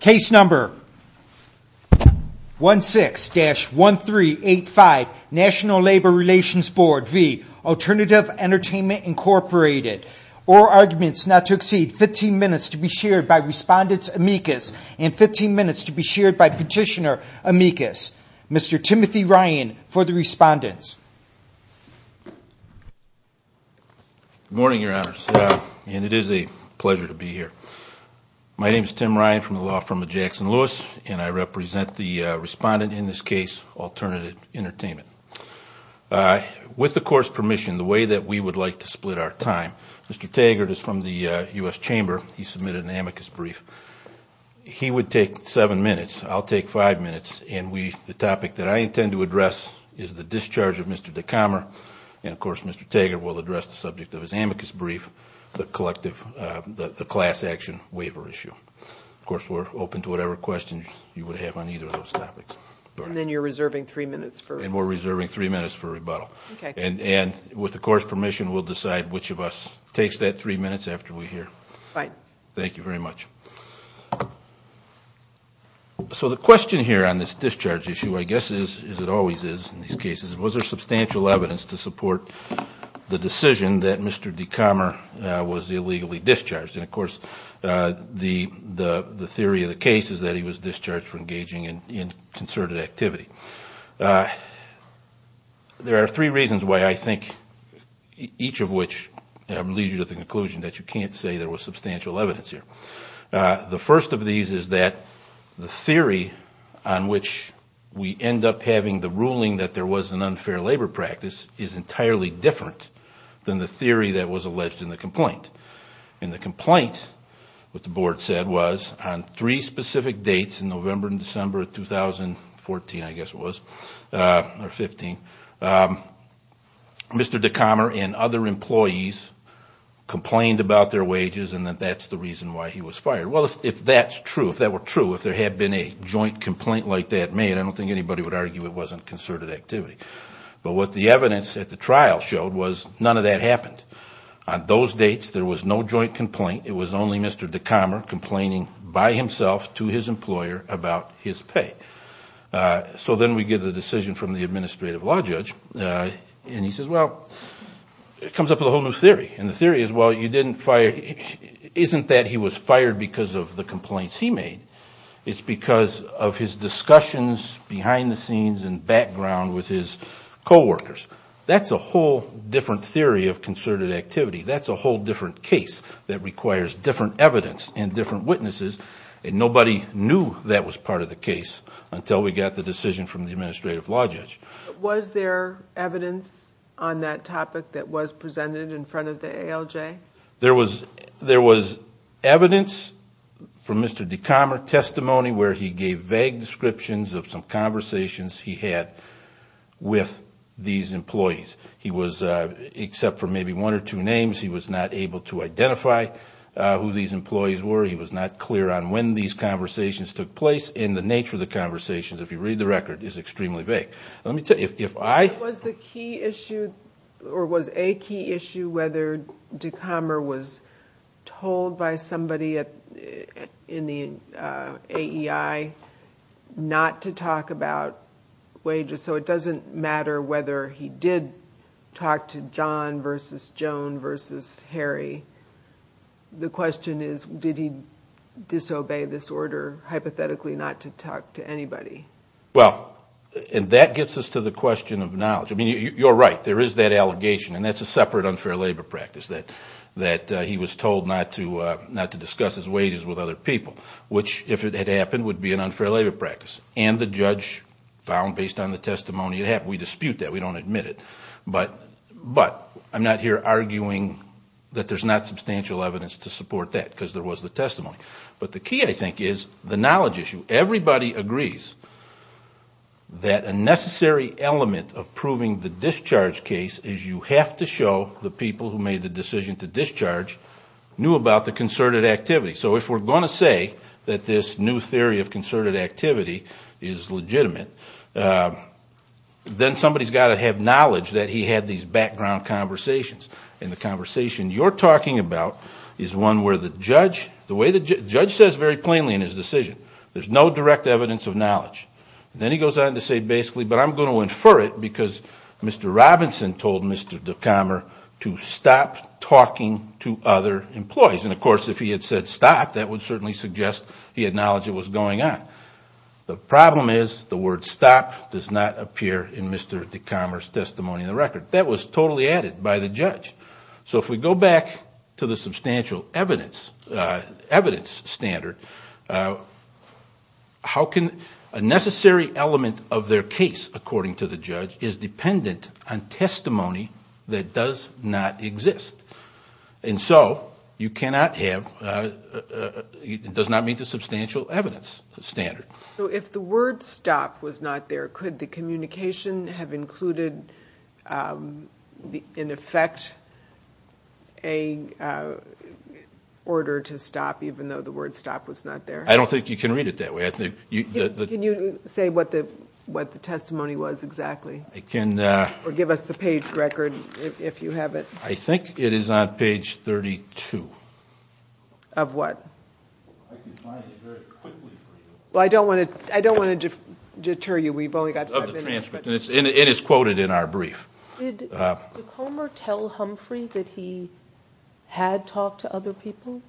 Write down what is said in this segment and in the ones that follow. Case number 16-1385, National Labor Relations Board v. Alternative Entertainment Incorporated. Oral arguments not to exceed 15 minutes to be shared by Respondents Amicus and 15 minutes to be shared by Petitioner Amicus. Mr. Timothy Ryan for the Respondents. Good morning, Your Honors, and it is a pleasure to be here. My name is Tim Ryan from the law firm of Jackson Lewis, and I represent the Respondent in this case, Alternative Entertainment. With the Court's permission, the way that we would like to split our time, Mr. Taggart is from the U.S. Chamber. He submitted an amicus brief. He would take seven minutes. I'll take five minutes. And the topic that I intend to address is the discharge of Mr. DeCommer. And, of course, Mr. Taggart will address the subject of his amicus brief, the class action waiver issue. Of course, we're open to whatever questions you would have on either of those topics. And then you're reserving three minutes for... And we're reserving three minutes for rebuttal. And with the Court's permission, we'll decide which of us takes that three minutes after we hear. All right. Thank you very much. So the question here on this discharge issue, I guess, is, as it always is in these cases, was there substantial evidence to support the decision that Mr. DeCommer was illegally discharged? And, of course, the theory of the case is that he was discharged for engaging in concerted activity. There are three reasons why I think each of which leads you to the conclusion that you can't say there was substantial evidence here. The first of these is that the theory on which we end up having the ruling that there was an unfair labor practice is entirely different than the theory that was alleged in the complaint. In the complaint, what the Board said was on three specific dates in November and December of 2014, I guess it was, or 15, Mr. DeCommer and other employees complained about their wages and that that's the reason why he was fired. Well, if that's true, if that were true, if there had been a joint complaint like that made, I don't think anybody would argue it wasn't concerted activity. But what the evidence at the trial showed was none of that happened. On those dates, there was no joint complaint. It was only Mr. DeCommer complaining by himself to his employer about his pay. So then we get a decision from the administrative law judge, and he says, well, it comes up with a whole new theory. And the theory is, well, you didn't fire, isn't that he was fired because of the complaints he made? It's because of his discussions behind the scenes and background with his coworkers. That's a whole different theory of concerted activity. That's a whole different case that requires different evidence and different witnesses, and nobody knew that was part of the case until we got the decision from the administrative law judge. Was there evidence on that topic that was presented in front of the ALJ? There was evidence from Mr. DeCommer testimony where he gave vague descriptions of some conversations he had with these employees. He was, except for maybe one or two names, he was not able to identify who these employees were. He was not clear on when these conversations took place. And the nature of the conversations, if you read the record, is extremely vague. Was a key issue whether DeCommer was told by somebody in the AEI not to talk about wages? So it doesn't matter whether he did talk to John versus Joan versus Harry. The question is, did he disobey this order hypothetically not to talk to anybody? Well, and that gets us to the question of knowledge. I mean, you're right, there is that allegation, and that's a separate unfair labor practice, that he was told not to discuss his wages with other people, which, if it had happened, would be an unfair labor practice. And the judge found, based on the testimony, we dispute that, we don't admit it. But I'm not here arguing that there's not substantial evidence to support that because there was the testimony. But the key, I think, is the knowledge issue. Everybody agrees that a necessary element of proving the discharge case is you have to show the people who made the decision to discharge knew about the concerted activity. So if we're going to say that this new theory of concerted activity is legitimate, then somebody's got to have knowledge that he had these background conversations. And the conversation you're talking about is one where the judge, the way the judge says very plainly in his decision, there's no direct evidence of knowledge. Then he goes on to say basically, but I'm going to infer it because Mr. Robinson told Mr. Decommer to stop talking to other employees. And, of course, if he had said stop, that would certainly suggest he had knowledge it was going on. The problem is the word stop does not appear in Mr. Decommer's testimony in the record. That was totally added by the judge. So if we go back to the substantial evidence standard, how can a necessary element of their case, according to the judge, is dependent on testimony that does not exist. And so you cannot have, it does not meet the substantial evidence standard. So if the word stop was not there, could the communication have included, in effect, an order to stop even though the word stop was not there? I don't think you can read it that way. Can you say what the testimony was exactly? Or give us the page record if you have it. I think it is on page 32. Of what? I can find it very quickly for you. Well, I don't want to deter you. We've only got five minutes. It is quoted in our brief. Did Decommer tell Humphrey that he had talked to other people?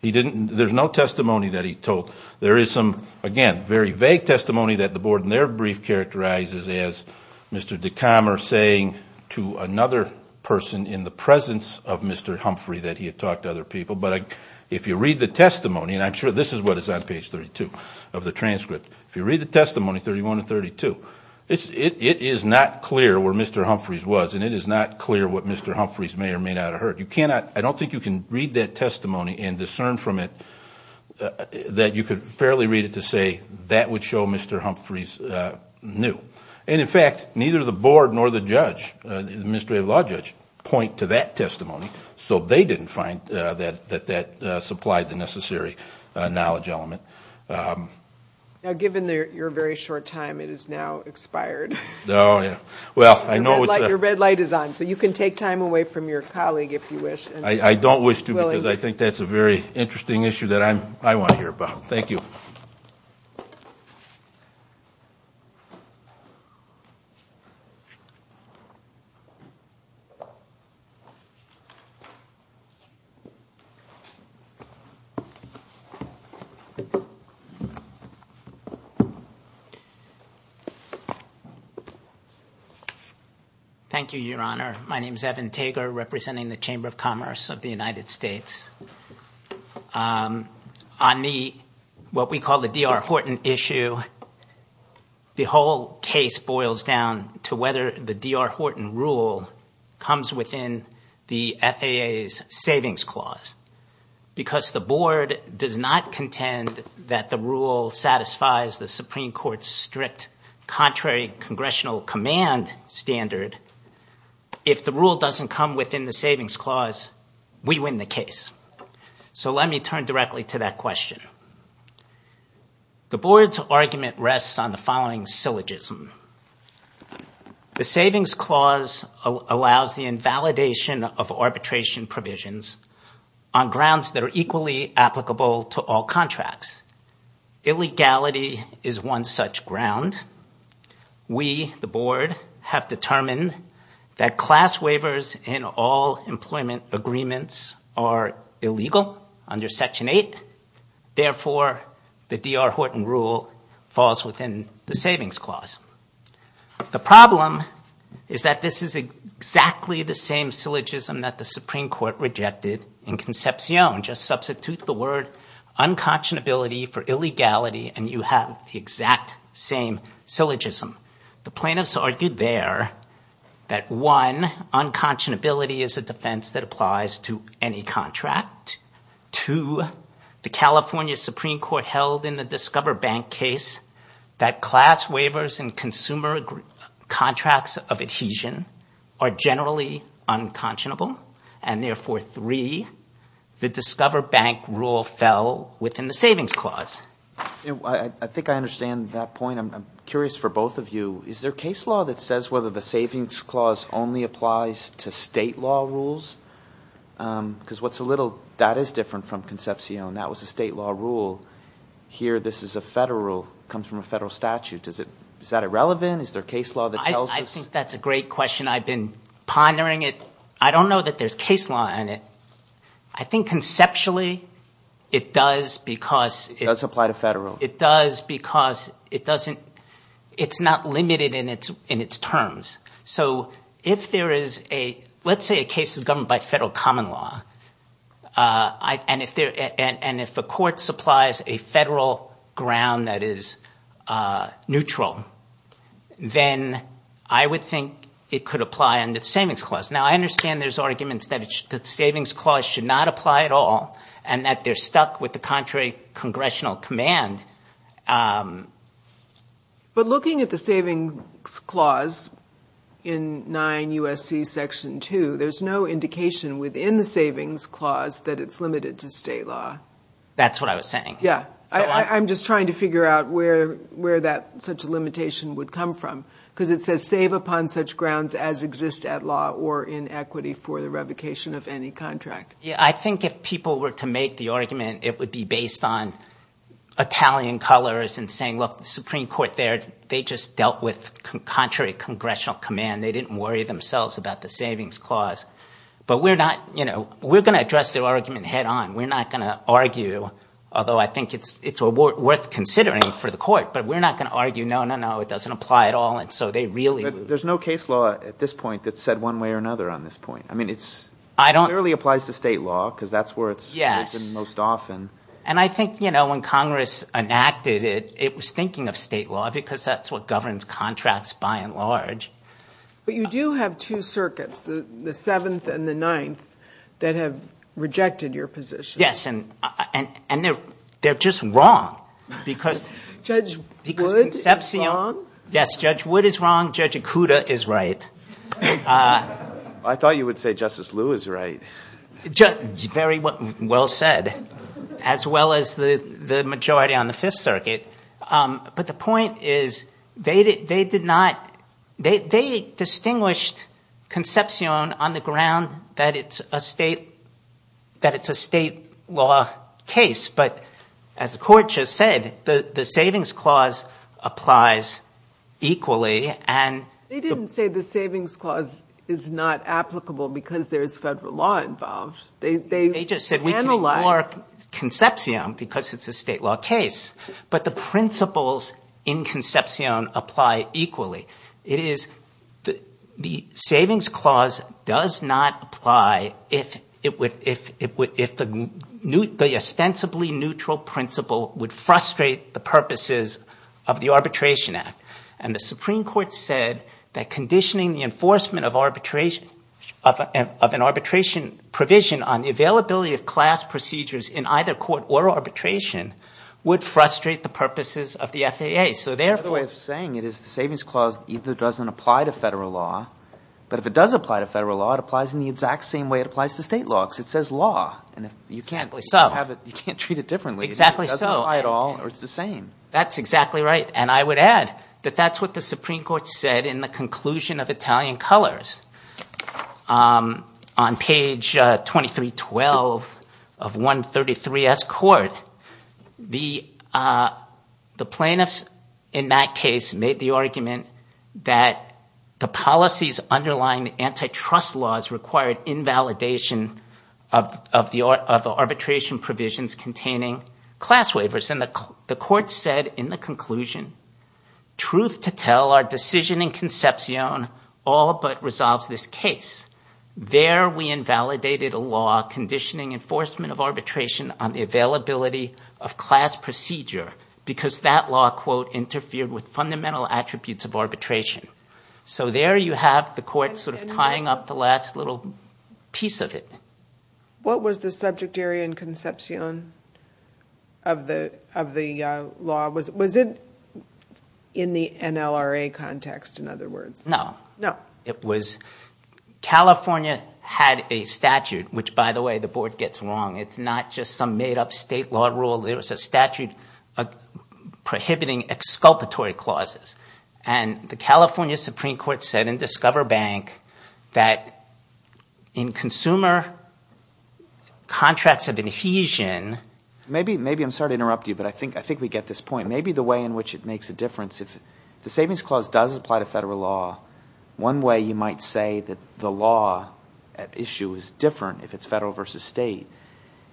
There's no testimony that he told. There is some, again, very vague testimony that the board in their brief characterizes as Mr. Decommer saying to another person in the presence of Mr. Humphrey that he had talked to other people. But if you read the testimony, and I'm sure this is what is on page 32 of the transcript, if you read the testimony, 31 and 32, it is not clear where Mr. Humphreys was. And it is not clear what Mr. Humphreys may or may not have heard. You cannot, I don't think you can read that testimony and discern from it that you could fairly read it to say that would show Mr. Humphreys knew. And, in fact, neither the board nor the judge, the administrative law judge, point to that testimony. So they didn't find that that supplied the necessary knowledge element. Now, given your very short time, it is now expired. Oh, yeah. Your red light is on, so you can take time away from your colleague if you wish. I don't wish to because I think that's a very interesting issue that I want to hear about. Thank you. Thank you, Your Honor. My name is Evan Tager, representing the Chamber of Commerce of the United States. On the, what we call the D.R. Horton issue, the whole case boils down to whether the D.R. Horton rule comes within the FAA's savings clause. Because the board does not contend that the rule satisfies the Supreme Court's strict contrary congressional command standard. If the rule doesn't come within the savings clause, we win the case. So let me turn directly to that question. The board's argument rests on the following syllogism. The savings clause allows the invalidation of arbitration provisions on grounds that are equally applicable to all contracts. Illegality is one such ground. We, the board, have determined that class waivers in all employment agreements are illegal under Section 8. Therefore, the D.R. Horton rule falls within the savings clause. The problem is that this is exactly the same syllogism that the Supreme Court rejected in Concepcion. Just substitute the word unconscionability for illegality and you have the exact same syllogism. The plaintiffs argued there that one, unconscionability is a defense that applies to any contract. Two, the California Supreme Court held in the Discover Bank case that class waivers in consumer contracts of adhesion are generally unconscionable. And therefore, three, the Discover Bank rule fell within the savings clause. I think I understand that point. I'm curious for both of you. Is there case law that says whether the savings clause only applies to state law rules? Because what's a little – that is different from Concepcion. That was a state law rule. Here this is a federal – comes from a federal statute. Is that irrelevant? Is there case law that tells us? I think that's a great question. I've been pondering it. I don't know that there's case law in it. I think conceptually it does because – It does apply to federal. It does because it doesn't – it's not limited in its terms. So if there is a – let's say a case is governed by federal common law and if the court supplies a federal ground that is neutral, then I would think it could apply under the savings clause. Now, I understand there's arguments that the savings clause should not apply at all and that they're stuck with the contrary congressional command. But looking at the savings clause in 9 U.S.C. Section 2, there's no indication within the savings clause that it's limited to state law. That's what I was saying. Yeah. I'm just trying to figure out where that – such a limitation would come from because it says save upon such grounds as exist at law or in equity for the revocation of any contract. Yeah, I think if people were to make the argument, it would be based on Italian colors and saying, look, the Supreme Court there, they just dealt with contrary congressional command. They didn't worry themselves about the savings clause. But we're not – we're going to address the argument head on. We're not going to argue, although I think it's worth considering for the court, but we're not going to argue no, no, no, it doesn't apply at all. And so they really – There's no case law at this point that's said one way or another on this point. I mean it clearly applies to state law because that's where it's – Yes. Most often. And I think when Congress enacted it, it was thinking of state law because that's what governs contracts by and large. But you do have two circuits, the 7th and the 9th, that have rejected your position. Yes, and they're just wrong because – Judge Wood is wrong? Yes, Judge Wood is wrong. Judge Ikuda is right. I thought you would say Justice Lew is right. Very well said, as well as the majority on the 5th Circuit. But the point is they did not – they distinguished conception on the ground that it's a state law case. But as the court just said, the savings clause applies equally and – They didn't say the savings clause is not applicable because there's federal law involved. They just said we can ignore conception because it's a state law case. But the principles in conception apply equally. The savings clause does not apply if the ostensibly neutral principle would frustrate the purposes of the Arbitration Act. And the Supreme Court said that conditioning the enforcement of arbitration – of an arbitration provision on the availability of class procedures in either court or arbitration would frustrate the purposes of the FAA. Another way of saying it is the savings clause either doesn't apply to federal law. But if it does apply to federal law, it applies in the exact same way it applies to state law because it says law. You can't treat it differently. It doesn't apply at all or it's the same. That's exactly right, and I would add that that's what the Supreme Court said in the conclusion of Italian Colors. On page 2312 of 133-S court, the plaintiffs in that case made the argument that the policies underlying antitrust laws required invalidation of the arbitration provisions containing class waivers. And the court said in the conclusion, truth to tell, our decision in conception all but resolves this case. There we invalidated a law conditioning enforcement of arbitration on the availability of class procedure because that law, quote, interfered with fundamental attributes of arbitration. So there you have the court sort of tying up the last little piece of it. What was the subject area in conception of the law? Was it in the NLRA context, in other words? No. No. It was California had a statute, which by the way, the board gets wrong. It's not just some made-up state law rule. It was a statute prohibiting exculpatory clauses. And the California Supreme Court said in Discover Bank that in consumer contracts of adhesion. Maybe I'm sorry to interrupt you, but I think we get this point. Maybe the way in which it makes a difference, if the Savings Clause does apply to federal law, one way you might say that the law at issue is different if it's federal versus state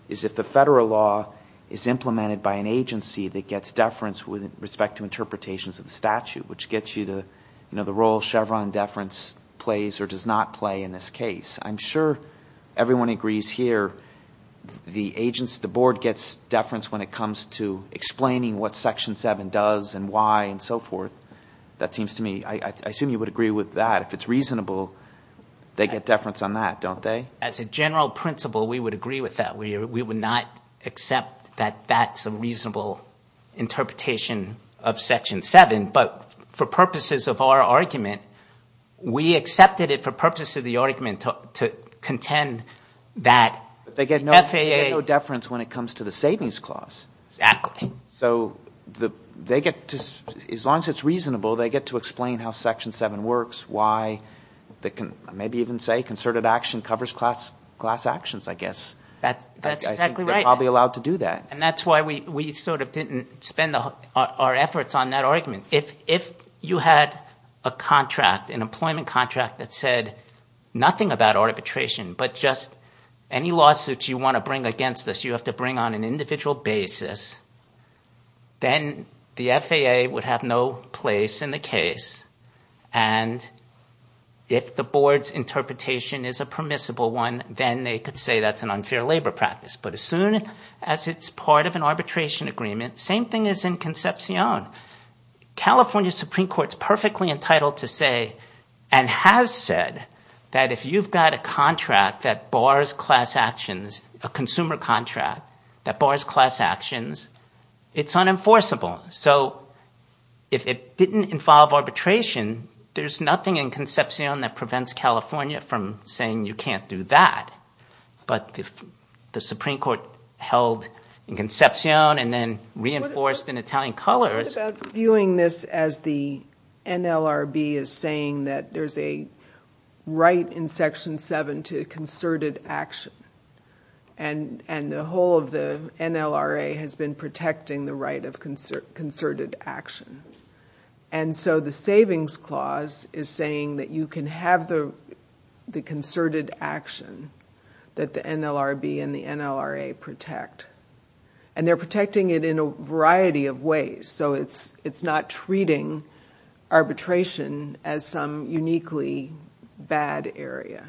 is if the federal law is implemented by an agency that gets deference with respect to interpretations of the statute. Which gets you to the role Chevron deference plays or does not play in this case. I'm sure everyone agrees here the agents, the board gets deference when it comes to explaining what Section 7 does and why and so forth. That seems to me, I assume you would agree with that. If it's reasonable, they get deference on that, don't they? As a general principle, we would agree with that. We would not accept that that's a reasonable interpretation of Section 7. But for purposes of our argument, we accepted it for purposes of the argument to contend that the FAA. They get no deference when it comes to the Savings Clause. Exactly. So they get to, as long as it's reasonable, they get to explain how Section 7 works, why they can maybe even say concerted action covers class actions, I guess. That's exactly right. I think they're probably allowed to do that. And that's why we sort of didn't spend our efforts on that argument. If you had a contract, an employment contract that said nothing about arbitration but just any lawsuits you want to bring against this, you have to bring on an individual basis. Then the FAA would have no place in the case. And if the board's interpretation is a permissible one, then they could say that's an unfair labor practice. But as soon as it's part of an arbitration agreement, same thing as in Concepcion. California Supreme Court is perfectly entitled to say and has said that if you've got a contract that bars class actions, a consumer contract that bars class actions, it's unenforceable. So if it didn't involve arbitration, there's nothing in Concepcion that prevents California from saying you can't do that. But if the Supreme Court held in Concepcion and then reinforced in Italian colors. What about viewing this as the NLRB is saying that there's a right in Section 7 to concerted action. And the whole of the NLRA has been protecting the right of concerted action. And so the savings clause is saying that you can have the concerted action that the NLRB and the NLRA protect. And they're protecting it in a variety of ways. So it's not treating arbitration as some uniquely bad area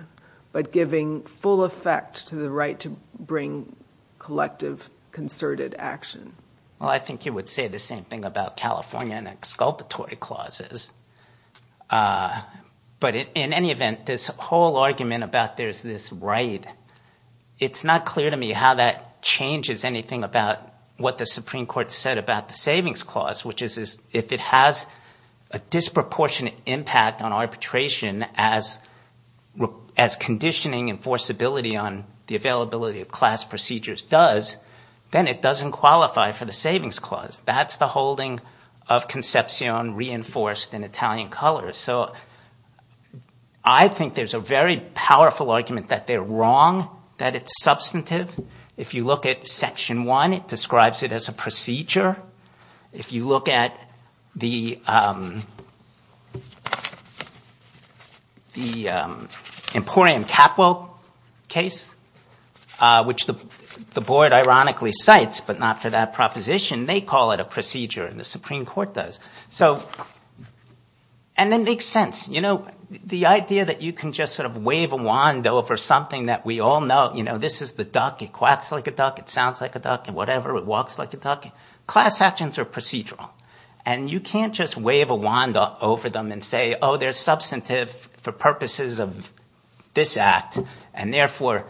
but giving full effect to the right to bring collective concerted action. Well, I think you would say the same thing about California and exculpatory clauses. But in any event, this whole argument about there's this right, it's not clear to me how that changes anything about what the Supreme Court said about the savings clause, which is if it has a disproportionate impact on arbitration as conditioning enforceability on the availability of class procedures does. Then it doesn't qualify for the savings clause. That's the holding of Concepcion reinforced in Italian colors. So I think there's a very powerful argument that they're wrong, that it's substantive. If you look at Section 1, it describes it as a procedure. If you look at the Emporium Capo case, which the board ironically cites but not for that proposition, they call it a procedure and the Supreme Court does. And it makes sense. The idea that you can just sort of wave a wand over something that we all know. This is the duck. It quacks like a duck. It sounds like a duck. It walks like a duck. Class actions are procedural. And you can't just wave a wand over them and say, oh, they're substantive for purposes of this act. And therefore,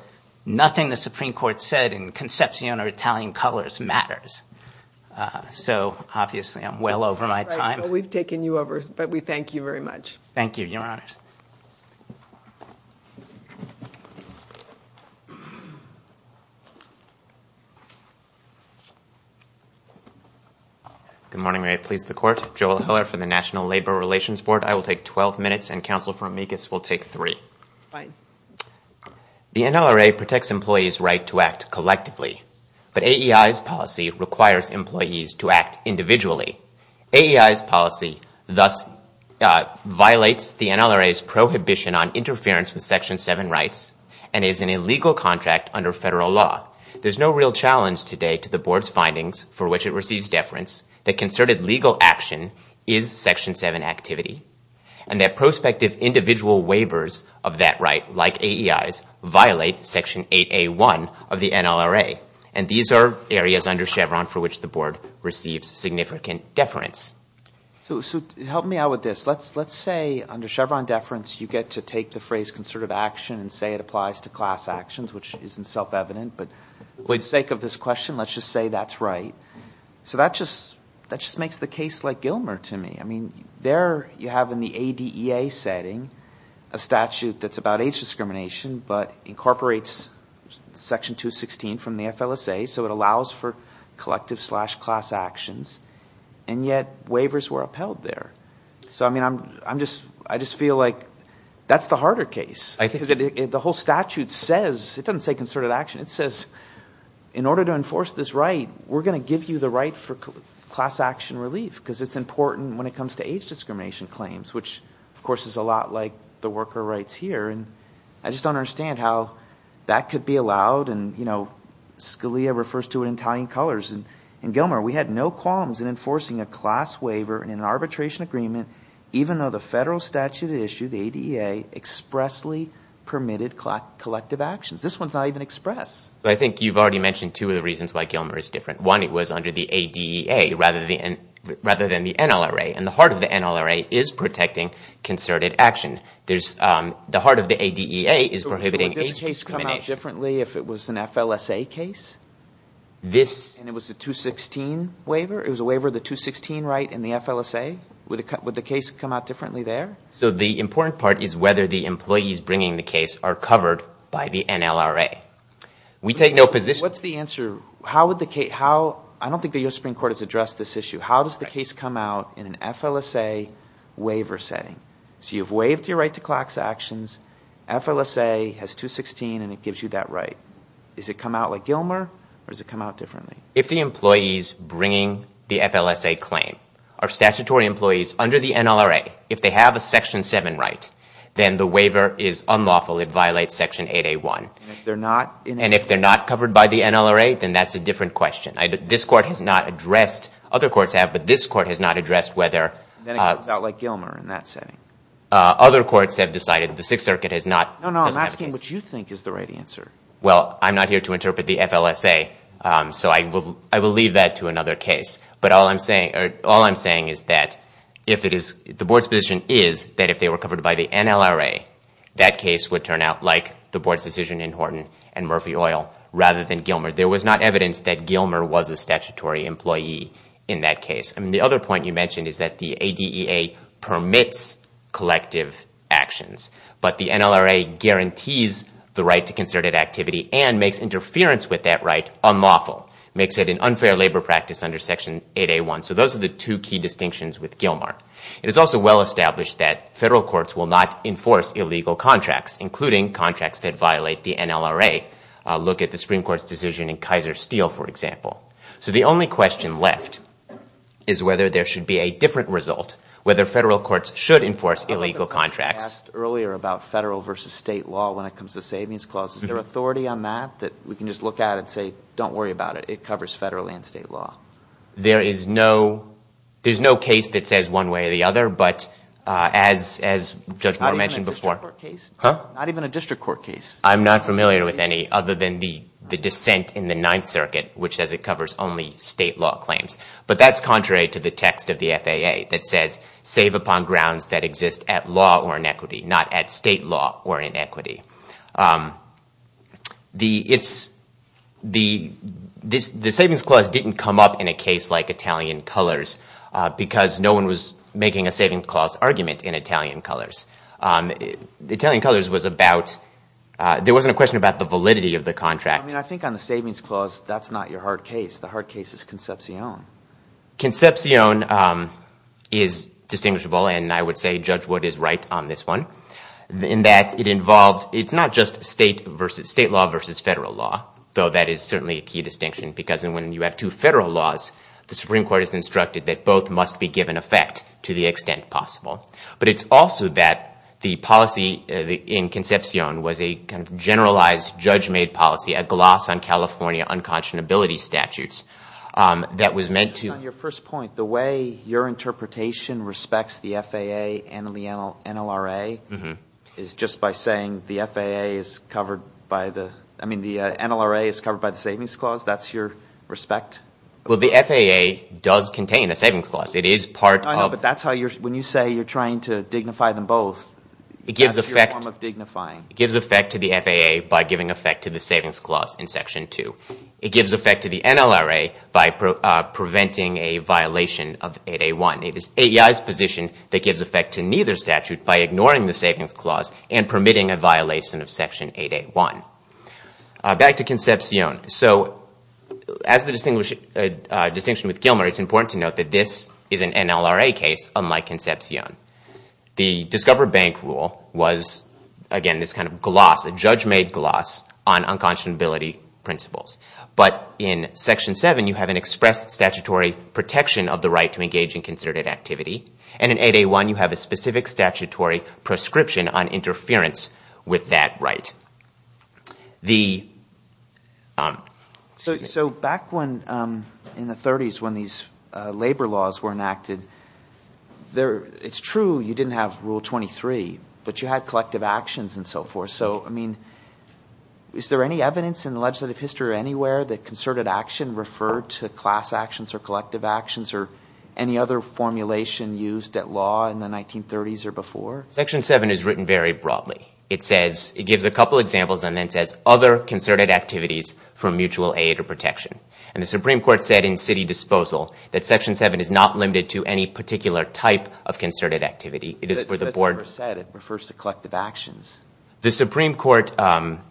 nothing the Supreme Court said in Concepcion or Italian colors matters. So obviously I'm well over my time. We've taken you over, but we thank you very much. Thank you, Your Honors. Good morning. May it please the Court. Joel Heller from the National Labor Relations Board. I will take 12 minutes, and Counsel for Amicus will take three. Fine. The NLRA protects employees' right to act collectively, but AEI's policy requires employees to act individually. AEI's policy thus violates the NLRA's prohibition on interference with Section 7 rights and is an illegal contract under federal law. There's no real challenge today to the Board's findings for which it receives deference that concerted legal action is Section 7 activity and that prospective individual waivers of that right, like AEI's, violate Section 8A1 of the NLRA. And these are areas under Chevron for which the Board receives significant deference. So help me out with this. Let's say under Chevron deference you get to take the phrase concerted action and say it applies to class actions, which isn't self-evident, but for the sake of this question, let's just say that's right. So that just makes the case like Gilmer to me. I mean, there you have in the ADEA setting a statute that's about age discrimination but incorporates Section 216 from the FLSA, so it allows for collective slash class actions, and yet waivers were upheld there. So, I mean, I just feel like that's the harder case. The whole statute says, it doesn't say concerted action, it says in order to enforce this right, we're going to give you the right for class action relief because it's important when it comes to age discrimination claims, which, of course, is a lot like the worker rights here, and I just don't understand how that could be allowed, and Scalia refers to it in Italian colors, and Gilmer, we had no qualms in enforcing a class waiver in an arbitration agreement even though the federal statute issued the ADEA expressly permitted collective actions. This one's not even expressed. I think you've already mentioned two of the reasons why Gilmer is different. One, it was under the ADEA rather than the NLRA, and the heart of the NLRA is protecting concerted action. The heart of the ADEA is prohibiting age discrimination. So would this case come out differently if it was an FLSA case? And it was a 216 waiver? It was a waiver of the 216 right in the FLSA? Would the case come out differently there? So the important part is whether the employees bringing the case are covered by the NLRA. We take no position. What's the answer? I don't think the U.S. Supreme Court has addressed this issue. How does the case come out in an FLSA waiver setting? So you've waived your right to class actions. FLSA has 216, and it gives you that right. Does it come out like Gilmer, or does it come out differently? If the employees bringing the FLSA claim are statutory employees under the NLRA, if they have a Section 7 right, then the waiver is unlawful. It violates Section 8A1. And if they're not? And if they're not covered by the NLRA, then that's a different question. This court has not addressed. Other courts have, but this court has not addressed whether. Then it comes out like Gilmer in that setting. Other courts have decided. The Sixth Circuit has not. No, no, I'm asking what you think is the right answer. Well, I'm not here to interpret the FLSA, so I will leave that to another case. But all I'm saying is that the board's position is that if they were covered by the NLRA, that case would turn out like the board's decision in Horton and Murphy Oil rather than Gilmer. There was not evidence that Gilmer was a statutory employee in that case. The other point you mentioned is that the ADEA permits collective actions, but the NLRA guarantees the right to concerted activity and makes interference with that right unlawful, makes it an unfair labor practice under Section 8A1. So those are the two key distinctions with Gilmer. It is also well established that federal courts will not enforce illegal contracts, including contracts that violate the NLRA. Look at the Supreme Court's decision in Kaiser Steel, for example. So the only question left is whether there should be a different result, whether federal courts should enforce illegal contracts. You asked earlier about federal versus state law when it comes to savings clauses. Is there authority on that that we can just look at and say, don't worry about it. It covers federal and state law. There is no case that says one way or the other, but as Judge Moore mentioned before. Not even a district court case. I'm not familiar with any other than the dissent in the Ninth Circuit, which says it covers only state law claims. But that's contrary to the text of the FAA that says, save upon grounds that exist at law or in equity, not at state law or in equity. The savings clause didn't come up in a case like Italian Colors because no one was making a savings clause argument in Italian Colors. Italian Colors was about, there wasn't a question about the validity of the contract. I think on the savings clause, that's not your hard case. The hard case is Concepcion. Concepcion is distinguishable, and I would say Judge Wood is right on this one, in that it's not just state law versus federal law, though that is certainly a key distinction because when you have two federal laws, the Supreme Court has instructed that both must be given effect to the extent possible. But it's also that the policy in Concepcion was a generalized, judge-made policy, a gloss on California unconscionability statutes that was meant to – On your first point, the way your interpretation respects the FAA and the NLRA is just by saying the FAA is covered by the – I mean the NLRA is covered by the savings clause. That's your respect? Well, the FAA does contain a savings clause. It is part of – I know, but that's how you're – when you say you're trying to dignify them both, that's your form of dignifying. It gives effect to the FAA by giving effect to the savings clause in Section 2. It gives effect to the NLRA by preventing a violation of 8A1. It is AEI's position that gives effect to neither statute by ignoring the savings clause and permitting a violation of Section 8A1. Back to Concepcion. As the distinction with Gilmer, it's important to note that this is an NLRA case, unlike Concepcion. The Discover Bank rule was, again, this kind of gloss, a judge-made gloss, on unconscionability principles. But in Section 7, you have an express statutory protection of the right to engage in considered activity, and in 8A1, you have a specific statutory prescription on interference with that right. The – So back when – in the 30s when these labor laws were enacted, it's true you didn't have Rule 23, but you had collective actions and so forth. So, I mean, is there any evidence in the legislative history or anywhere that concerted action referred to class actions or collective actions or any other formulation used at law in the 1930s or before? Section 7 is written very broadly. It says – it gives a couple examples and then says other concerted activities for mutual aid or protection. And the Supreme Court said in city disposal that Section 7 is not limited to any particular type of concerted activity. It is for the board – That's what it said. It refers to collective actions. The Supreme Court in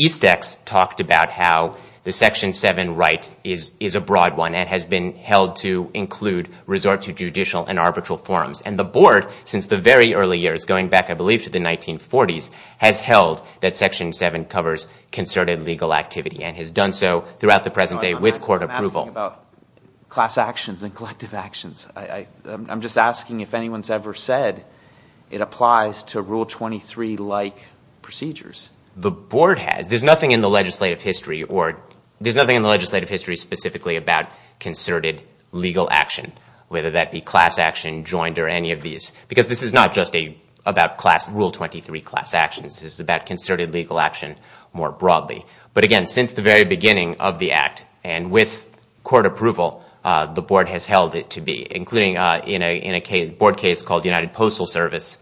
East Ex talked about how the Section 7 right is a broad one and has been held to include resort to judicial and arbitral forms. And the board, since the very early years, going back, I believe, to the 1940s, has held that Section 7 covers concerted legal activity and has done so throughout the present day with court approval. I'm asking about class actions and collective actions. I'm just asking if anyone's ever said it applies to Rule 23-like procedures. The board has. There's nothing in the legislative history specifically about concerted legal action, whether that be class action, joined, or any of these, because this is not just about Rule 23 class actions. This is about concerted legal action more broadly. But again, since the very beginning of the Act and with court approval, the board has held it to be, including in a board case called United Postal Service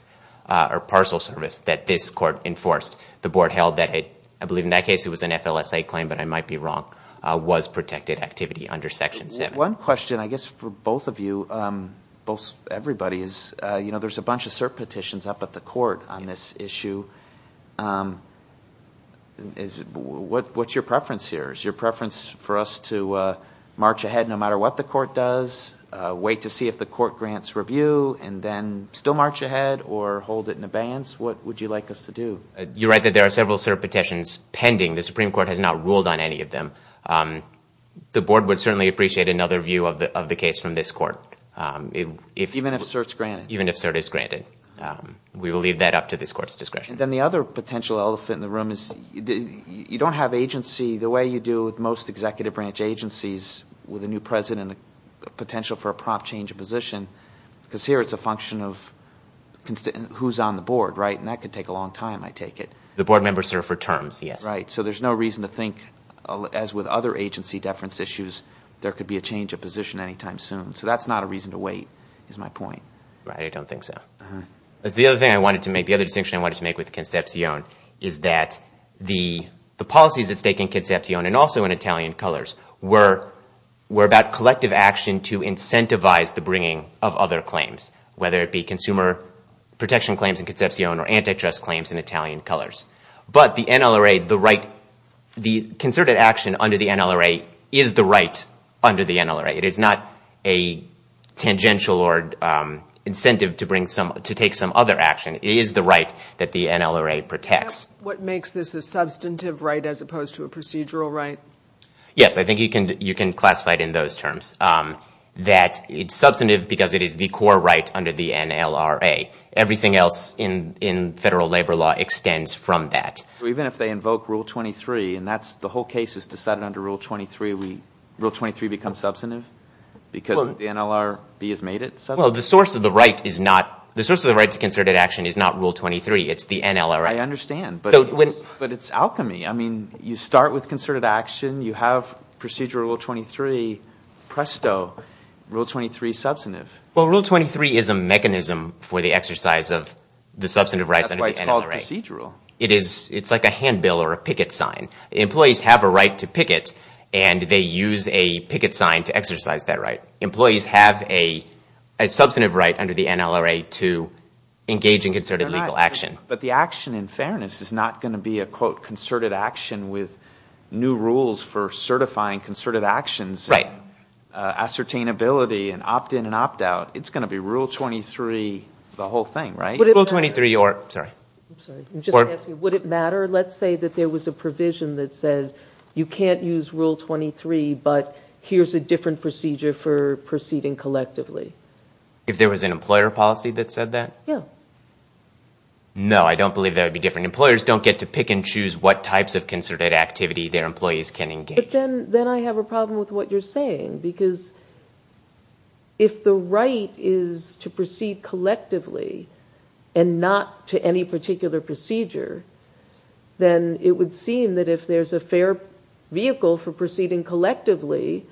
or Parcel Service that this court enforced. The board held that it – I believe in that case it was an FLSA claim, but I might be wrong – was protected activity under Section 7. One question, I guess, for both of you, everybody, is there's a bunch of cert petitions up at the court on this issue. What's your preference here? Is your preference for us to march ahead no matter what the court does, wait to see if the court grants review, and then still march ahead or hold it in abeyance? What would you like us to do? You're right that there are several cert petitions pending. The Supreme Court has not ruled on any of them. The board would certainly appreciate another view of the case from this court. Even if cert's granted? Even if cert is granted. We will leave that up to this court's discretion. And then the other potential elephant in the room is you don't have agency, the way you do with most executive branch agencies with a new president, a potential for a prompt change of position, because here it's a function of who's on the board, right? And that could take a long time, I take it. The board members serve for terms, yes. Right, so there's no reason to think, as with other agency deference issues, there could be a change of position anytime soon. So that's not a reason to wait, is my point. Right, I don't think so. The other distinction I wanted to make with Concepcion is that the policies at stake in Concepcion and also in Italian colors were about collective action to incentivize the bringing of other claims, whether it be consumer protection claims in Concepcion or antitrust claims in Italian colors. But the NLRA, the concerted action under the NLRA is the right under the NLRA. It is not a tangential or incentive to take some other action. It is the right that the NLRA protects. What makes this a substantive right as opposed to a procedural right? Yes, I think you can classify it in those terms, that it's substantive because it is the core right under the NLRA. Everything else in federal labor law extends from that. Even if they invoke Rule 23, and the whole case is decided under Rule 23, Rule 23 becomes substantive because the NLRB has made it substantive. Well, the source of the right to concerted action is not Rule 23. It's the NLRA. I understand, but it's alchemy. I mean, you start with concerted action. You have procedural Rule 23. Presto, Rule 23 is substantive. Well, Rule 23 is a mechanism for the exercise of the substantive rights under the NLRA. That's why it's called procedural. It's like a handbill or a picket sign. Employees have a right to picket, and they use a picket sign to exercise that right. Employees have a substantive right under the NLRA to engage in concerted legal action. But the action in fairness is not going to be a, quote, concerted action with new rules for certifying concerted actions. Right. Ascertainability and opt-in and opt-out. It's going to be Rule 23, the whole thing, right? Rule 23 or – sorry. I'm just going to ask you, would it matter? Let's say that there was a provision that said you can't use Rule 23, but here's a different procedure for proceeding collectively. If there was an employer policy that said that? Yeah. No, I don't believe that would be different. Employers don't get to pick and choose what types of concerted activity their employees can engage in. But then I have a problem with what you're saying, because if the right is to proceed collectively and not to any particular procedure, then it would seem that if there's a fair vehicle for proceeding collectively,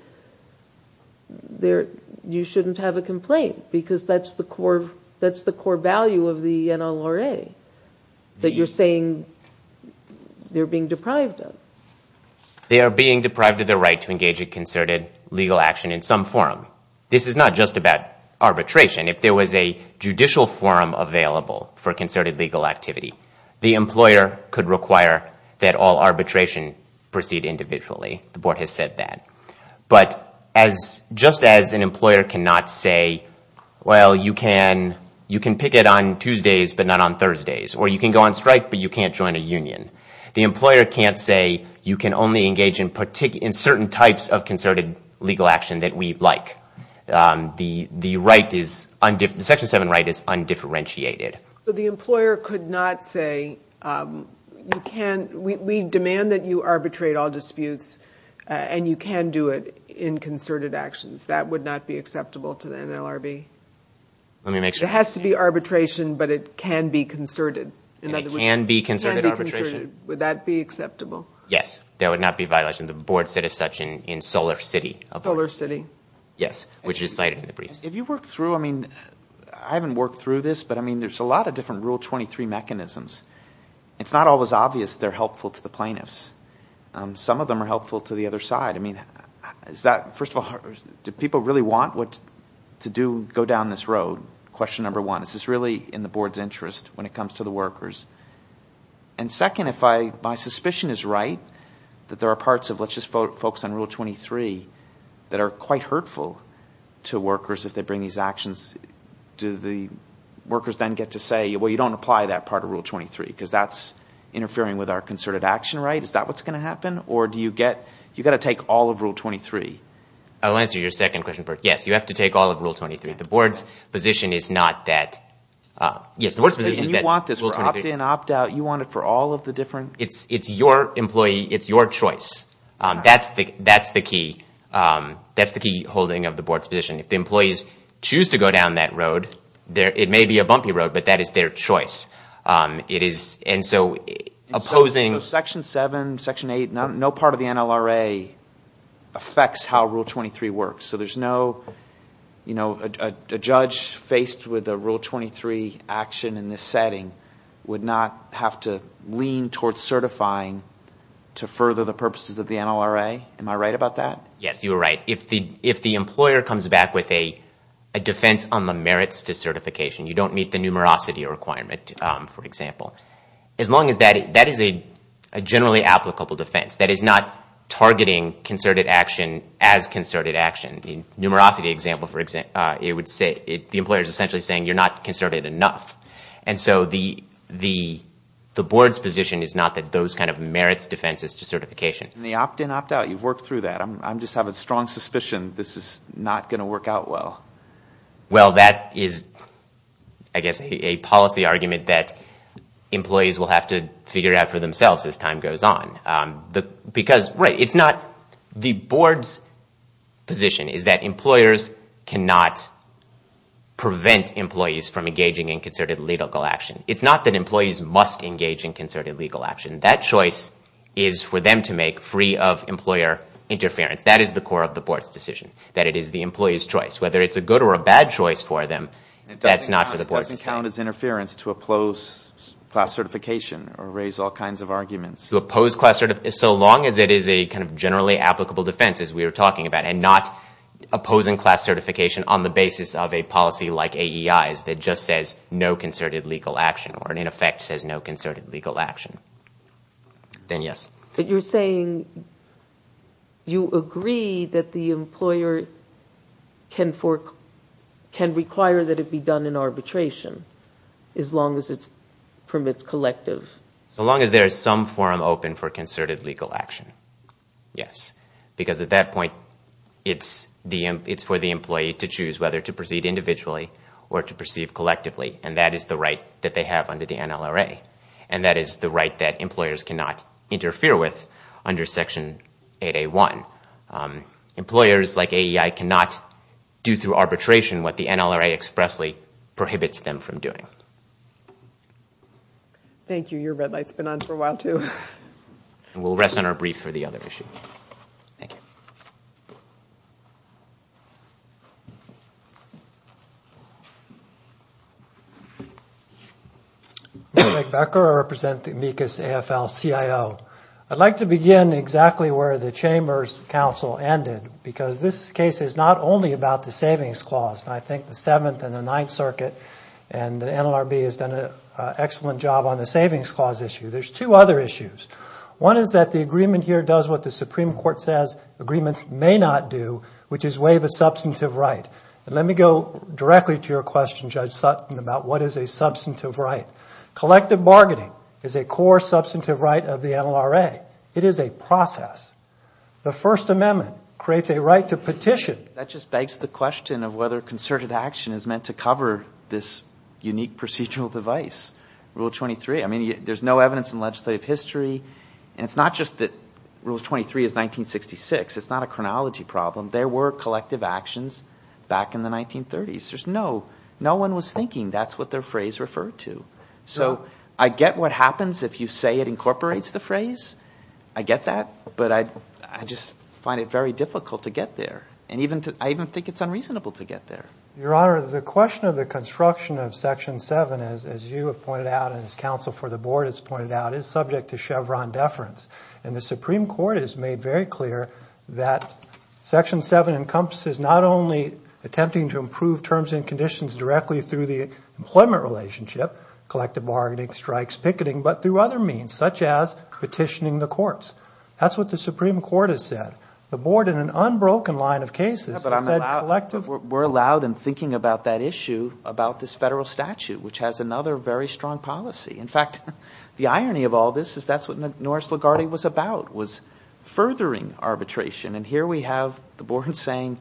you shouldn't have a complaint, because that's the core value of the NLRA, that you're saying they're being deprived of. They are being deprived of their right to engage in concerted legal action in some forum. This is not just about arbitration. If there was a judicial forum available for concerted legal activity, the employer could require that all arbitration proceed individually. The Board has said that. But just as an employer cannot say, well, you can picket on Tuesdays but not on Thursdays, the employer can't say you can only engage in certain types of concerted legal action that we like. The Section 7 right is undifferentiated. So the employer could not say, we demand that you arbitrate all disputes, and you can do it in concerted actions. That would not be acceptable to the NLRB? Let me make sure. It has to be arbitration, but it can be concerted. It can be concerted arbitration. Would that be acceptable? Yes. That would not be a violation. The Board said as such in Solar City. Solar City. Yes, which is cited in the briefs. Have you worked through, I mean, I haven't worked through this, but there's a lot of different Rule 23 mechanisms. It's not always obvious they're helpful to the plaintiffs. Some of them are helpful to the other side. First of all, do people really want to go down this road, question number one? This is really in the Board's interest when it comes to the workers. Second, if my suspicion is right, that there are parts of, let's just focus on Rule 23, that are quite hurtful to workers if they bring these actions, do the workers then get to say, well, you don't apply that part of Rule 23 because that's interfering with our concerted action right? Is that what's going to happen, or do you get to take all of Rule 23? I'll answer your second question first. Yes, you have to take all of Rule 23. The Board's position is not that... You want this for opt-in, opt-out, you want it for all of the different... It's your employee, it's your choice. That's the key holding of the Board's position. If the employees choose to go down that road, it may be a bumpy road, but that is their choice. Section 7, Section 8, no part of the NLRA affects how Rule 23 works. So there's no... A judge faced with a Rule 23 action in this setting would not have to lean towards certifying to further the purposes of the NLRA. Am I right about that? Yes, you are right. If the employer comes back with a defense on the merits to certification, you don't meet the numerosity requirement, for example, as long as that is a generally applicable defense. That is not targeting concerted action as concerted action. In the numerosity example, it would say... The employer is essentially saying you're not concerted enough. So the Board's position is not that those kind of merits defenses to certification. The opt-in, opt-out, you've worked through that. I just have a strong suspicion this is not going to work out well. Well, that is, I guess, a policy argument that employees will have to figure out for themselves as time goes on. Because, right, it's not... The Board's position is that employers cannot prevent employees from engaging in concerted legal action. It's not that employees must engage in concerted legal action. That choice is for them to make free of employer interference. That is the core of the Board's decision, that it is the employee's choice. Whether it's a good or a bad choice for them, that's not for the Board to decide. It doesn't count as interference to oppose class certification or raise all kinds of arguments. So long as it is a kind of generally applicable defense, as we were talking about, and not opposing class certification on the basis of a policy like AEI's that just says no concerted legal action, or in effect says no concerted legal action, then yes. But you're saying you agree that the employer can require that it be done in arbitration, as long as it permits collective... As long as there is some forum open for concerted legal action, yes. Because at that point, it's for the employee to choose whether to proceed individually or to proceed collectively. And that is the right that they have under the NLRA. And that is the right that employers cannot interfere with under Section 8A1. Employers like AEI cannot do through arbitration what the NLRA expressly prohibits them from doing. Thank you. Your red light's been on for a while, too. And we'll rest on our brief for the other issue. Thank you. Mike Becker. I represent the amicus AFL-CIO. I'd like to begin exactly where the Chambers Council ended, because this case is not only about the savings clause. And I think the Seventh and the Ninth Circuit and the NLRB has done an excellent job on the savings clause issue. There's two other issues. One is that the agreement here does what the Supreme Court says agreements may not do, which is waive a substantive right. And let me go directly to your question, Judge Sutton, about what is a substantive right. Collective bargaining is a core substantive right of the NLRA. It is a process. The First Amendment creates a right to petition. That just begs the question of whether concerted action is meant to cover this unique procedural device, Rule 23. I mean, there's no evidence in legislative history. And it's not just that Rule 23 is 1966. It's not a chronology problem. There were collective actions back in the 1930s. There's no one was thinking that's what their phrase referred to. So I get what happens if you say it incorporates the phrase. I get that. But I just find it very difficult to get there. And I even think it's unreasonable to get there. Your Honor, the question of the construction of Section 7, as you have pointed out and as counsel for the Board has pointed out, is subject to Chevron deference. And the Supreme Court has made very clear that Section 7 encompasses not only attempting to improve terms and conditions directly through the employment relationship, collective bargaining, strikes, picketing, but through other means, such as petitioning the courts. That's what the Supreme Court has said. The Board, in an unbroken line of cases, has said collective. Yeah, but I'm allowed. We're allowed in thinking about that issue about this federal statute, which has another very strong policy. In fact, the irony of all this is that's what Norris LaGuardia was about, was furthering arbitration. And here we have the Board saying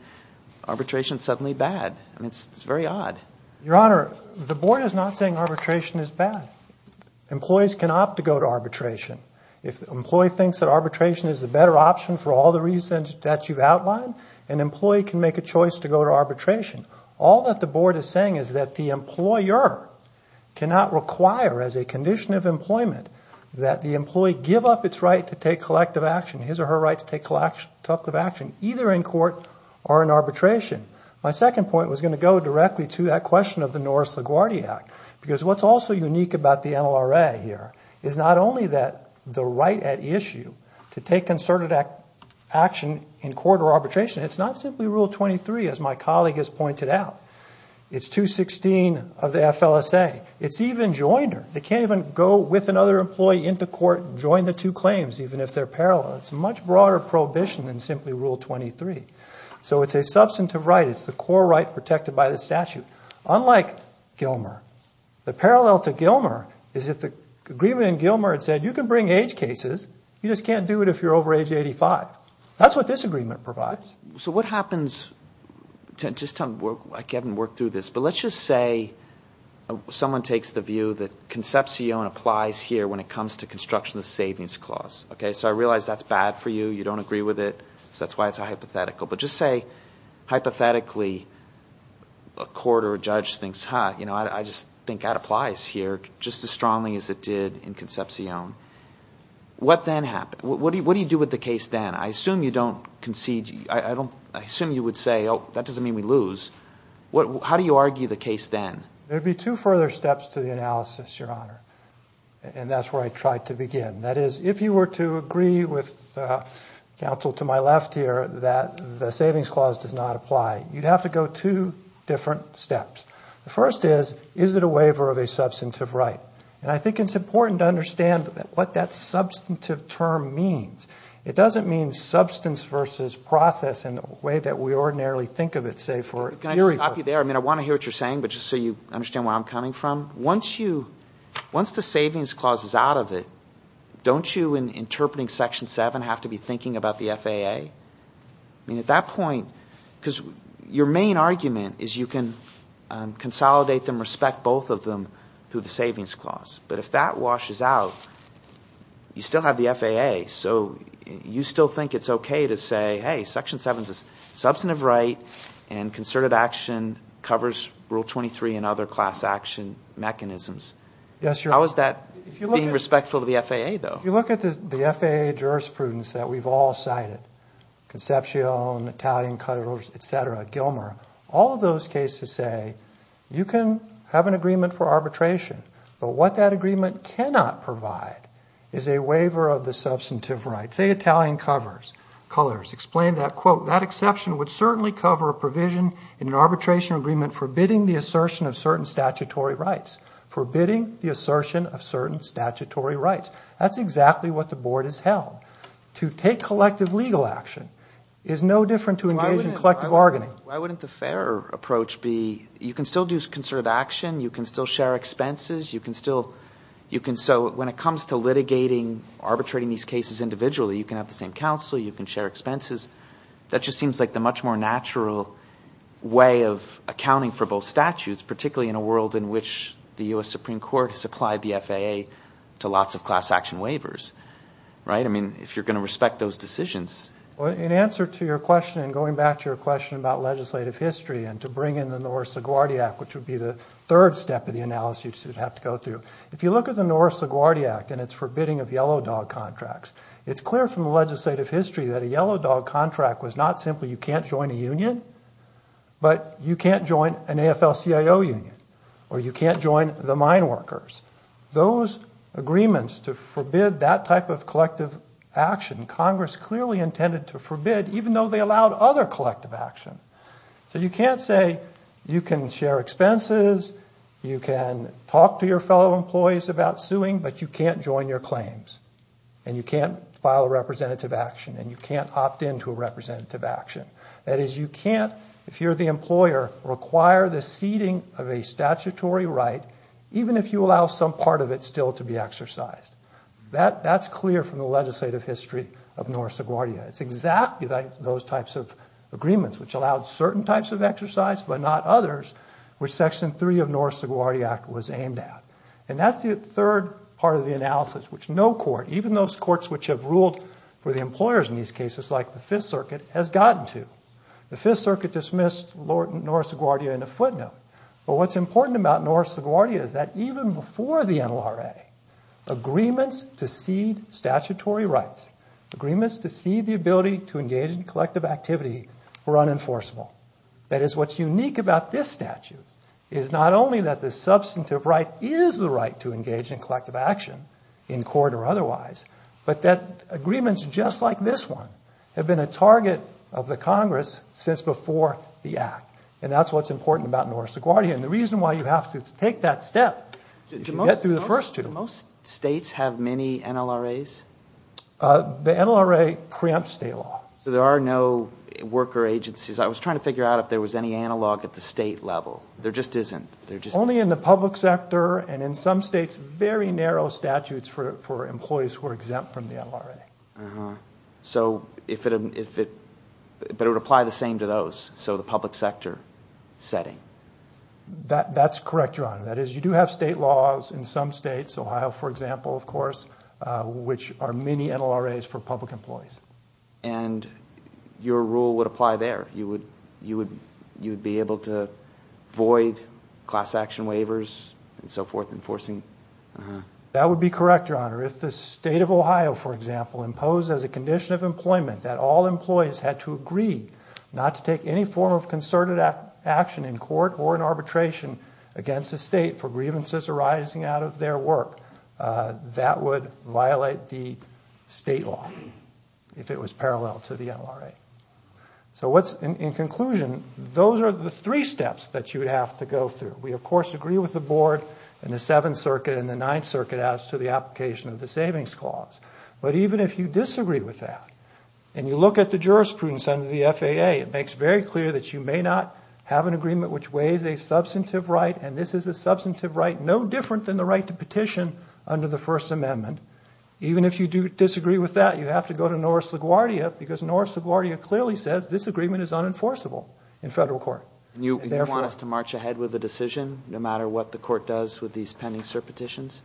arbitration is suddenly bad. I mean, it's very odd. Your Honor, the Board is not saying arbitration is bad. Employees can opt to go to arbitration. If the employee thinks that arbitration is the better option for all the reasons that you've outlined, an employee can make a choice to go to arbitration. All that the Board is saying is that the employer cannot require as a condition of employment that the employee give up its right to take collective action, his or her right to take collective action, either in court or in arbitration. My second point was going to go directly to that question of the Norris LaGuardia Act because what's also unique about the NLRA here is not only that the right at issue to take concerted action in court or arbitration, it's not simply Rule 23, as my colleague has pointed out. It's 216 of the FLSA. It's even joiner. They can't even go with another employee into court and join the two claims, even if they're parallel. It's a much broader prohibition than simply Rule 23. So it's a substantive right. It's the core right protected by the statute. Unlike Gilmer, the parallel to Gilmer is that the agreement in Gilmer said you can bring age cases. You just can't do it if you're over age 85. That's what this agreement provides. So what happens, just to work through this, but let's just say someone takes the view that Concepcion applies here when it comes to construction of the savings clause. Okay, so I realize that's bad for you. You don't agree with it. So that's why it's hypothetical. But just say, hypothetically, a court or a judge thinks, huh, I just think that applies here, just as strongly as it did in Concepcion. What then happens? What do you do with the case then? I assume you don't concede. I assume you would say, oh, that doesn't mean we lose. How do you argue the case then? There would be two further steps to the analysis, Your Honor, and that's where I tried to begin. That is, if you were to agree with counsel to my left here that the savings clause does not apply, you'd have to go two different steps. The first is, is it a waiver of a substantive right? And I think it's important to understand what that substantive term means. It doesn't mean substance versus process in the way that we ordinarily think of it, say, for hearing purposes. Can I just stop you there? I mean, I want to hear what you're saying, but just so you understand where I'm coming from. Once the savings clause is out of it, don't you, in interpreting Section 7, have to be thinking about the FAA? I mean, at that point, because your main argument is you can consolidate them, respect both of them through the savings clause. But if that washes out, you still have the FAA, so you still think it's okay to say, hey, Section 7 is a substantive right and concerted action covers Rule 23 and other class action mechanisms. Yes, Your Honor. How is that being respectful to the FAA, though? If you look at the FAA jurisprudence that we've all cited, Concepcion, Italian colors, et cetera, Gilmer, all of those cases say you can have an agreement for arbitration, but what that agreement cannot provide is a waiver of the substantive right. Let's say Italian colors explain that, quote, that exception would certainly cover a provision in an arbitration agreement forbidding the assertion of certain statutory rights. Forbidding the assertion of certain statutory rights. That's exactly what the Board has held. To take collective legal action is no different to engage in collective bargaining. Why wouldn't the fairer approach be you can still do concerted action, you can still share expenses, you can still – you can have the same counsel, you can share expenses. That just seems like the much more natural way of accounting for both statutes, particularly in a world in which the U.S. Supreme Court has applied the FAA to lots of class action waivers. Right? I mean, if you're going to respect those decisions. In answer to your question and going back to your question about legislative history and to bring in the Norris-LaGuardia Act, which would be the third step of the analysis you'd have to go through, if you look at the Norris-LaGuardia Act and its forbidding of yellow dog contracts, it's clear from the legislative history that a yellow dog contract was not simply you can't join a union, but you can't join an AFL-CIO union or you can't join the mine workers. Those agreements to forbid that type of collective action, Congress clearly intended to forbid even though they allowed other collective action. So you can't say you can share expenses, you can talk to your fellow employees about suing, but you can't join your claims and you can't file a representative action and you can't opt in to a representative action. That is, you can't, if you're the employer, require the ceding of a statutory right, even if you allow some part of it still to be exercised. That's clear from the legislative history of Norris-LaGuardia. It's exactly like those types of agreements which allowed certain types of exercise but not others, which Section 3 of Norris-LaGuardia Act was aimed at. And that's the third part of the analysis, which no court, even those courts which have ruled for the employers in these cases like the Fifth Circuit, has gotten to. The Fifth Circuit dismissed Norris-LaGuardia in a footnote. But what's important about Norris-LaGuardia is that even before the NLRA, agreements to cede statutory rights, agreements to cede the ability to engage in collective activity were unenforceable. That is, what's unique about this statute is not only that the substantive right is the right to engage in collective action in court or otherwise, but that agreements just like this one have been a target of the Congress since before the Act. And that's what's important about Norris-LaGuardia. And the reason why you have to take that step is you get through the first two. Do most states have many NLRAs? The NLRA preempts state law. So there are no worker agencies? I was trying to figure out if there was any analog at the state level. There just isn't. Only in the public sector and in some states, very narrow statutes for employees who are exempt from the NLRA. But it would apply the same to those, so the public sector setting? That's correct, Your Honor. That is, you do have state laws in some states, Ohio, for example, of course, which are many NLRAs for public employees. And your rule would apply there? You would be able to void class action waivers and so forth? That would be correct, Your Honor. If the state of Ohio, for example, imposed as a condition of employment that all employees had to agree not to take any form of concerted action in court or in arbitration against the state for grievances arising out of their work, that would violate the state law if it was parallel to the NLRA. So in conclusion, those are the three steps that you would have to go through. We, of course, agree with the Board and the Seventh Circuit and the Ninth Circuit as to the application of the Savings Clause. But even if you disagree with that and you look at the jurisprudence under the FAA, it makes very clear that you may not have an agreement which weighs a substantive right, and this is a substantive right no different than the right to petition under the First Amendment. Even if you do disagree with that, you have to go to North LaGuardia because North LaGuardia clearly says this agreement is unenforceable in federal court. You want us to march ahead with the decision no matter what the court does with these pending cert petitions?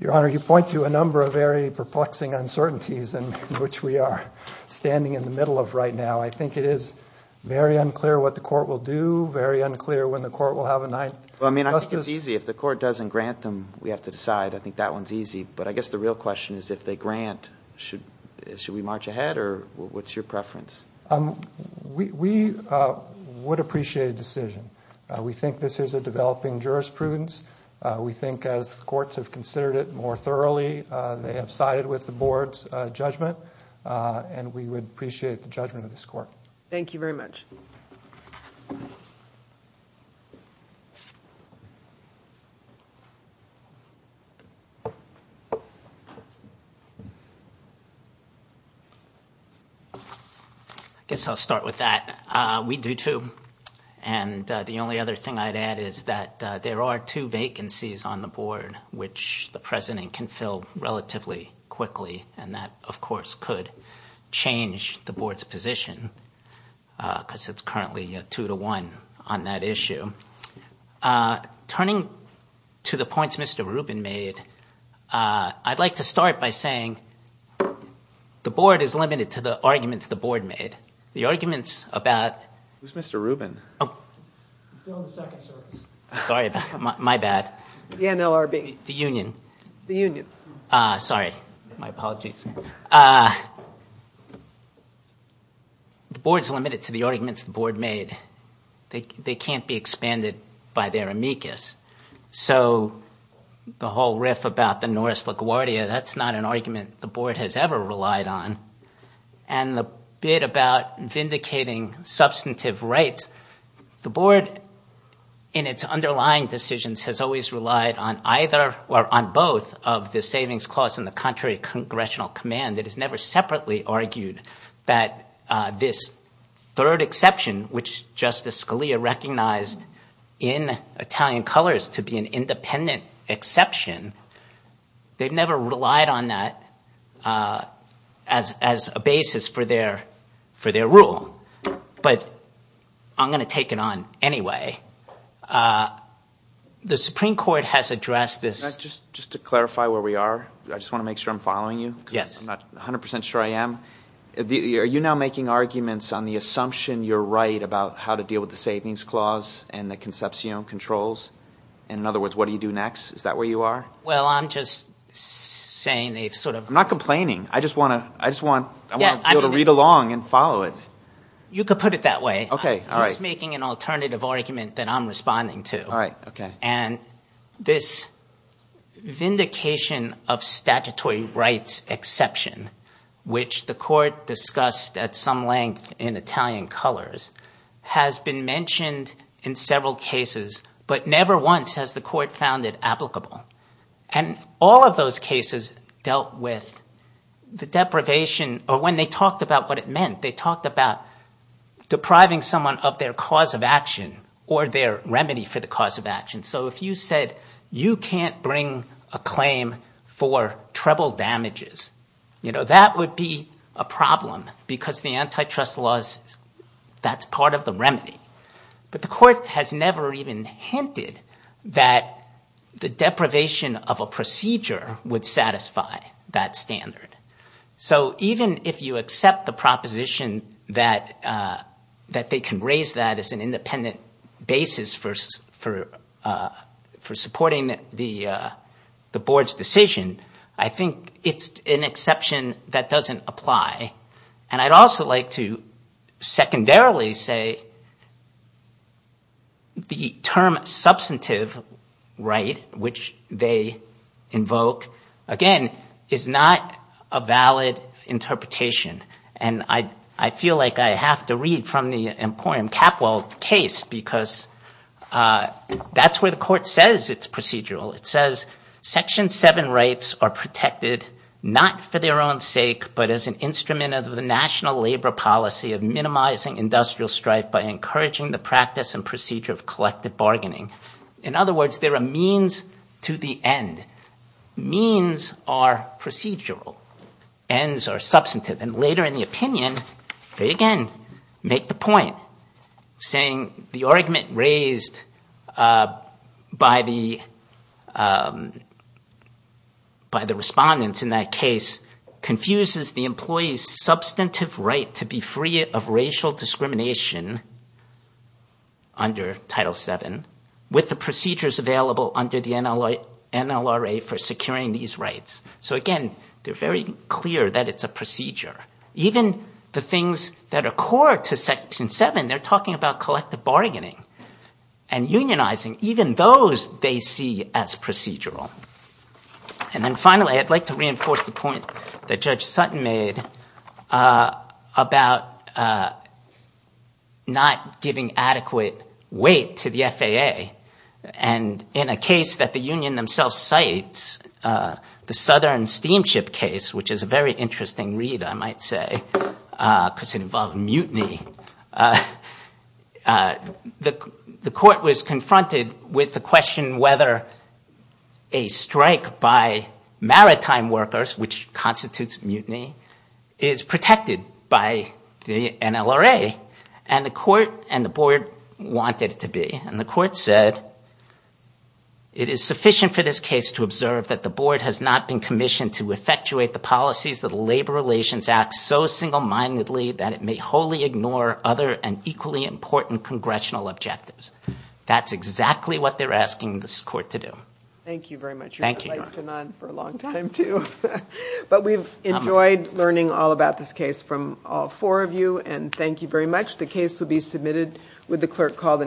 Your Honor, you point to a number of very perplexing uncertainties in which we are standing in the middle of right now. I think it is very unclear what the court will do, very unclear when the court will have a ninth. I mean, I think it's easy. If the court doesn't grant them, we have to decide. I think that one's easy. But I guess the real question is if they grant, should we march ahead or what's your preference? We would appreciate a decision. We think this is a developing jurisprudence. We think as courts have considered it more thoroughly, they have sided with the board's judgment, and we would appreciate the judgment of this court. Thank you very much. I guess I'll start with that. We do, too. And the only other thing I'd add is that there are two vacancies on the board which the president can fill relatively quickly, and that, of course, could change the board's position because it's currently two to one on that issue. Turning to the points Mr. Rubin made, I'd like to start by saying the board is limited to the arguments the board made. The arguments about- Who's Mr. Rubin? He's still in the second service. Sorry, my bad. The NLRB. The union. The union. Sorry. My apologies. The board's limited to the arguments the board made. They can't be expanded by their amicus. So the whole riff about the Norris LaGuardia, that's not an argument the board has ever relied on. And the bit about vindicating substantive rights, the board, in its underlying decisions, has always relied on either or on both of the savings clause and the contrary congressional command. It has never separately argued that this third exception, which Justice Scalia recognized in Italian colors to be an independent exception, they've never relied on that as a basis for their rule. But I'm going to take it on anyway. The Supreme Court has addressed this- Just to clarify where we are, I just want to make sure I'm following you. Yes. I'm not 100% sure I am. Are you now making arguments on the assumption you're right about how to deal with the savings clause and the conception controls? In other words, what do you do next? Is that where you are? Well, I'm just saying they've sort of- I'm not complaining. I just want to be able to read along and follow it. You could put it that way. I'm just making an alternative argument that I'm responding to. All right. Okay. This vindication of statutory rights exception, which the court discussed at some length in Italian colors, has been mentioned in several cases, but never once has the court found it applicable. All of those cases dealt with the deprivation or when they talked about what it meant. They talked about depriving someone of their cause of action or their remedy for the cause of action. So if you said you can't bring a claim for treble damages, that would be a problem because the antitrust laws, that's part of the remedy. But the court has never even hinted that the deprivation of a procedure would satisfy that standard. So even if you accept the proposition that they can raise that as an independent basis for supporting the board's decision, I think it's an exception that doesn't apply. And I'd also like to secondarily say the term substantive right, which they invoke, again, is not a valid interpretation. And I feel like I have to read from the Emporium Capwell case because that's where the court says it's procedural. It says Section 7 rights are protected not for their own sake, but as an instrument of the national labor policy of minimizing industrial strife by encouraging the practice and procedure of collective bargaining. In other words, they're a means to the end. by the respondents in that case confuses the employee's substantive right to be free of racial discrimination under Title 7 with the procedures available under the NLRA for securing these rights. So again, they're very clear that it's a procedure. Even the things that are core to Section 7, they're talking about collective bargaining and unionizing, even those they see as procedural. And then finally, I'd like to reinforce the point that Judge Sutton made about not giving adequate weight to the FAA. And in a case that the union themselves cite, the Southern Steamship case, which is a very interesting read, I might say, because it involved mutiny, the court was confronted with the question whether a strike by maritime workers, which constitutes mutiny, is protected by the NLRA. And the court and the board wanted it to be. And the court said, it is sufficient for this case to observe that the board has not been commissioned to effectuate the policies of the Labor Relations Act so single-mindedly that it may wholly ignore other and equally important congressional objectives. That's exactly what they're asking this court to do. Thank you. It's been on for a long time, too. But we've enjoyed learning all about this case from all four of you. And thank you very much. The case will be submitted with the clerk call.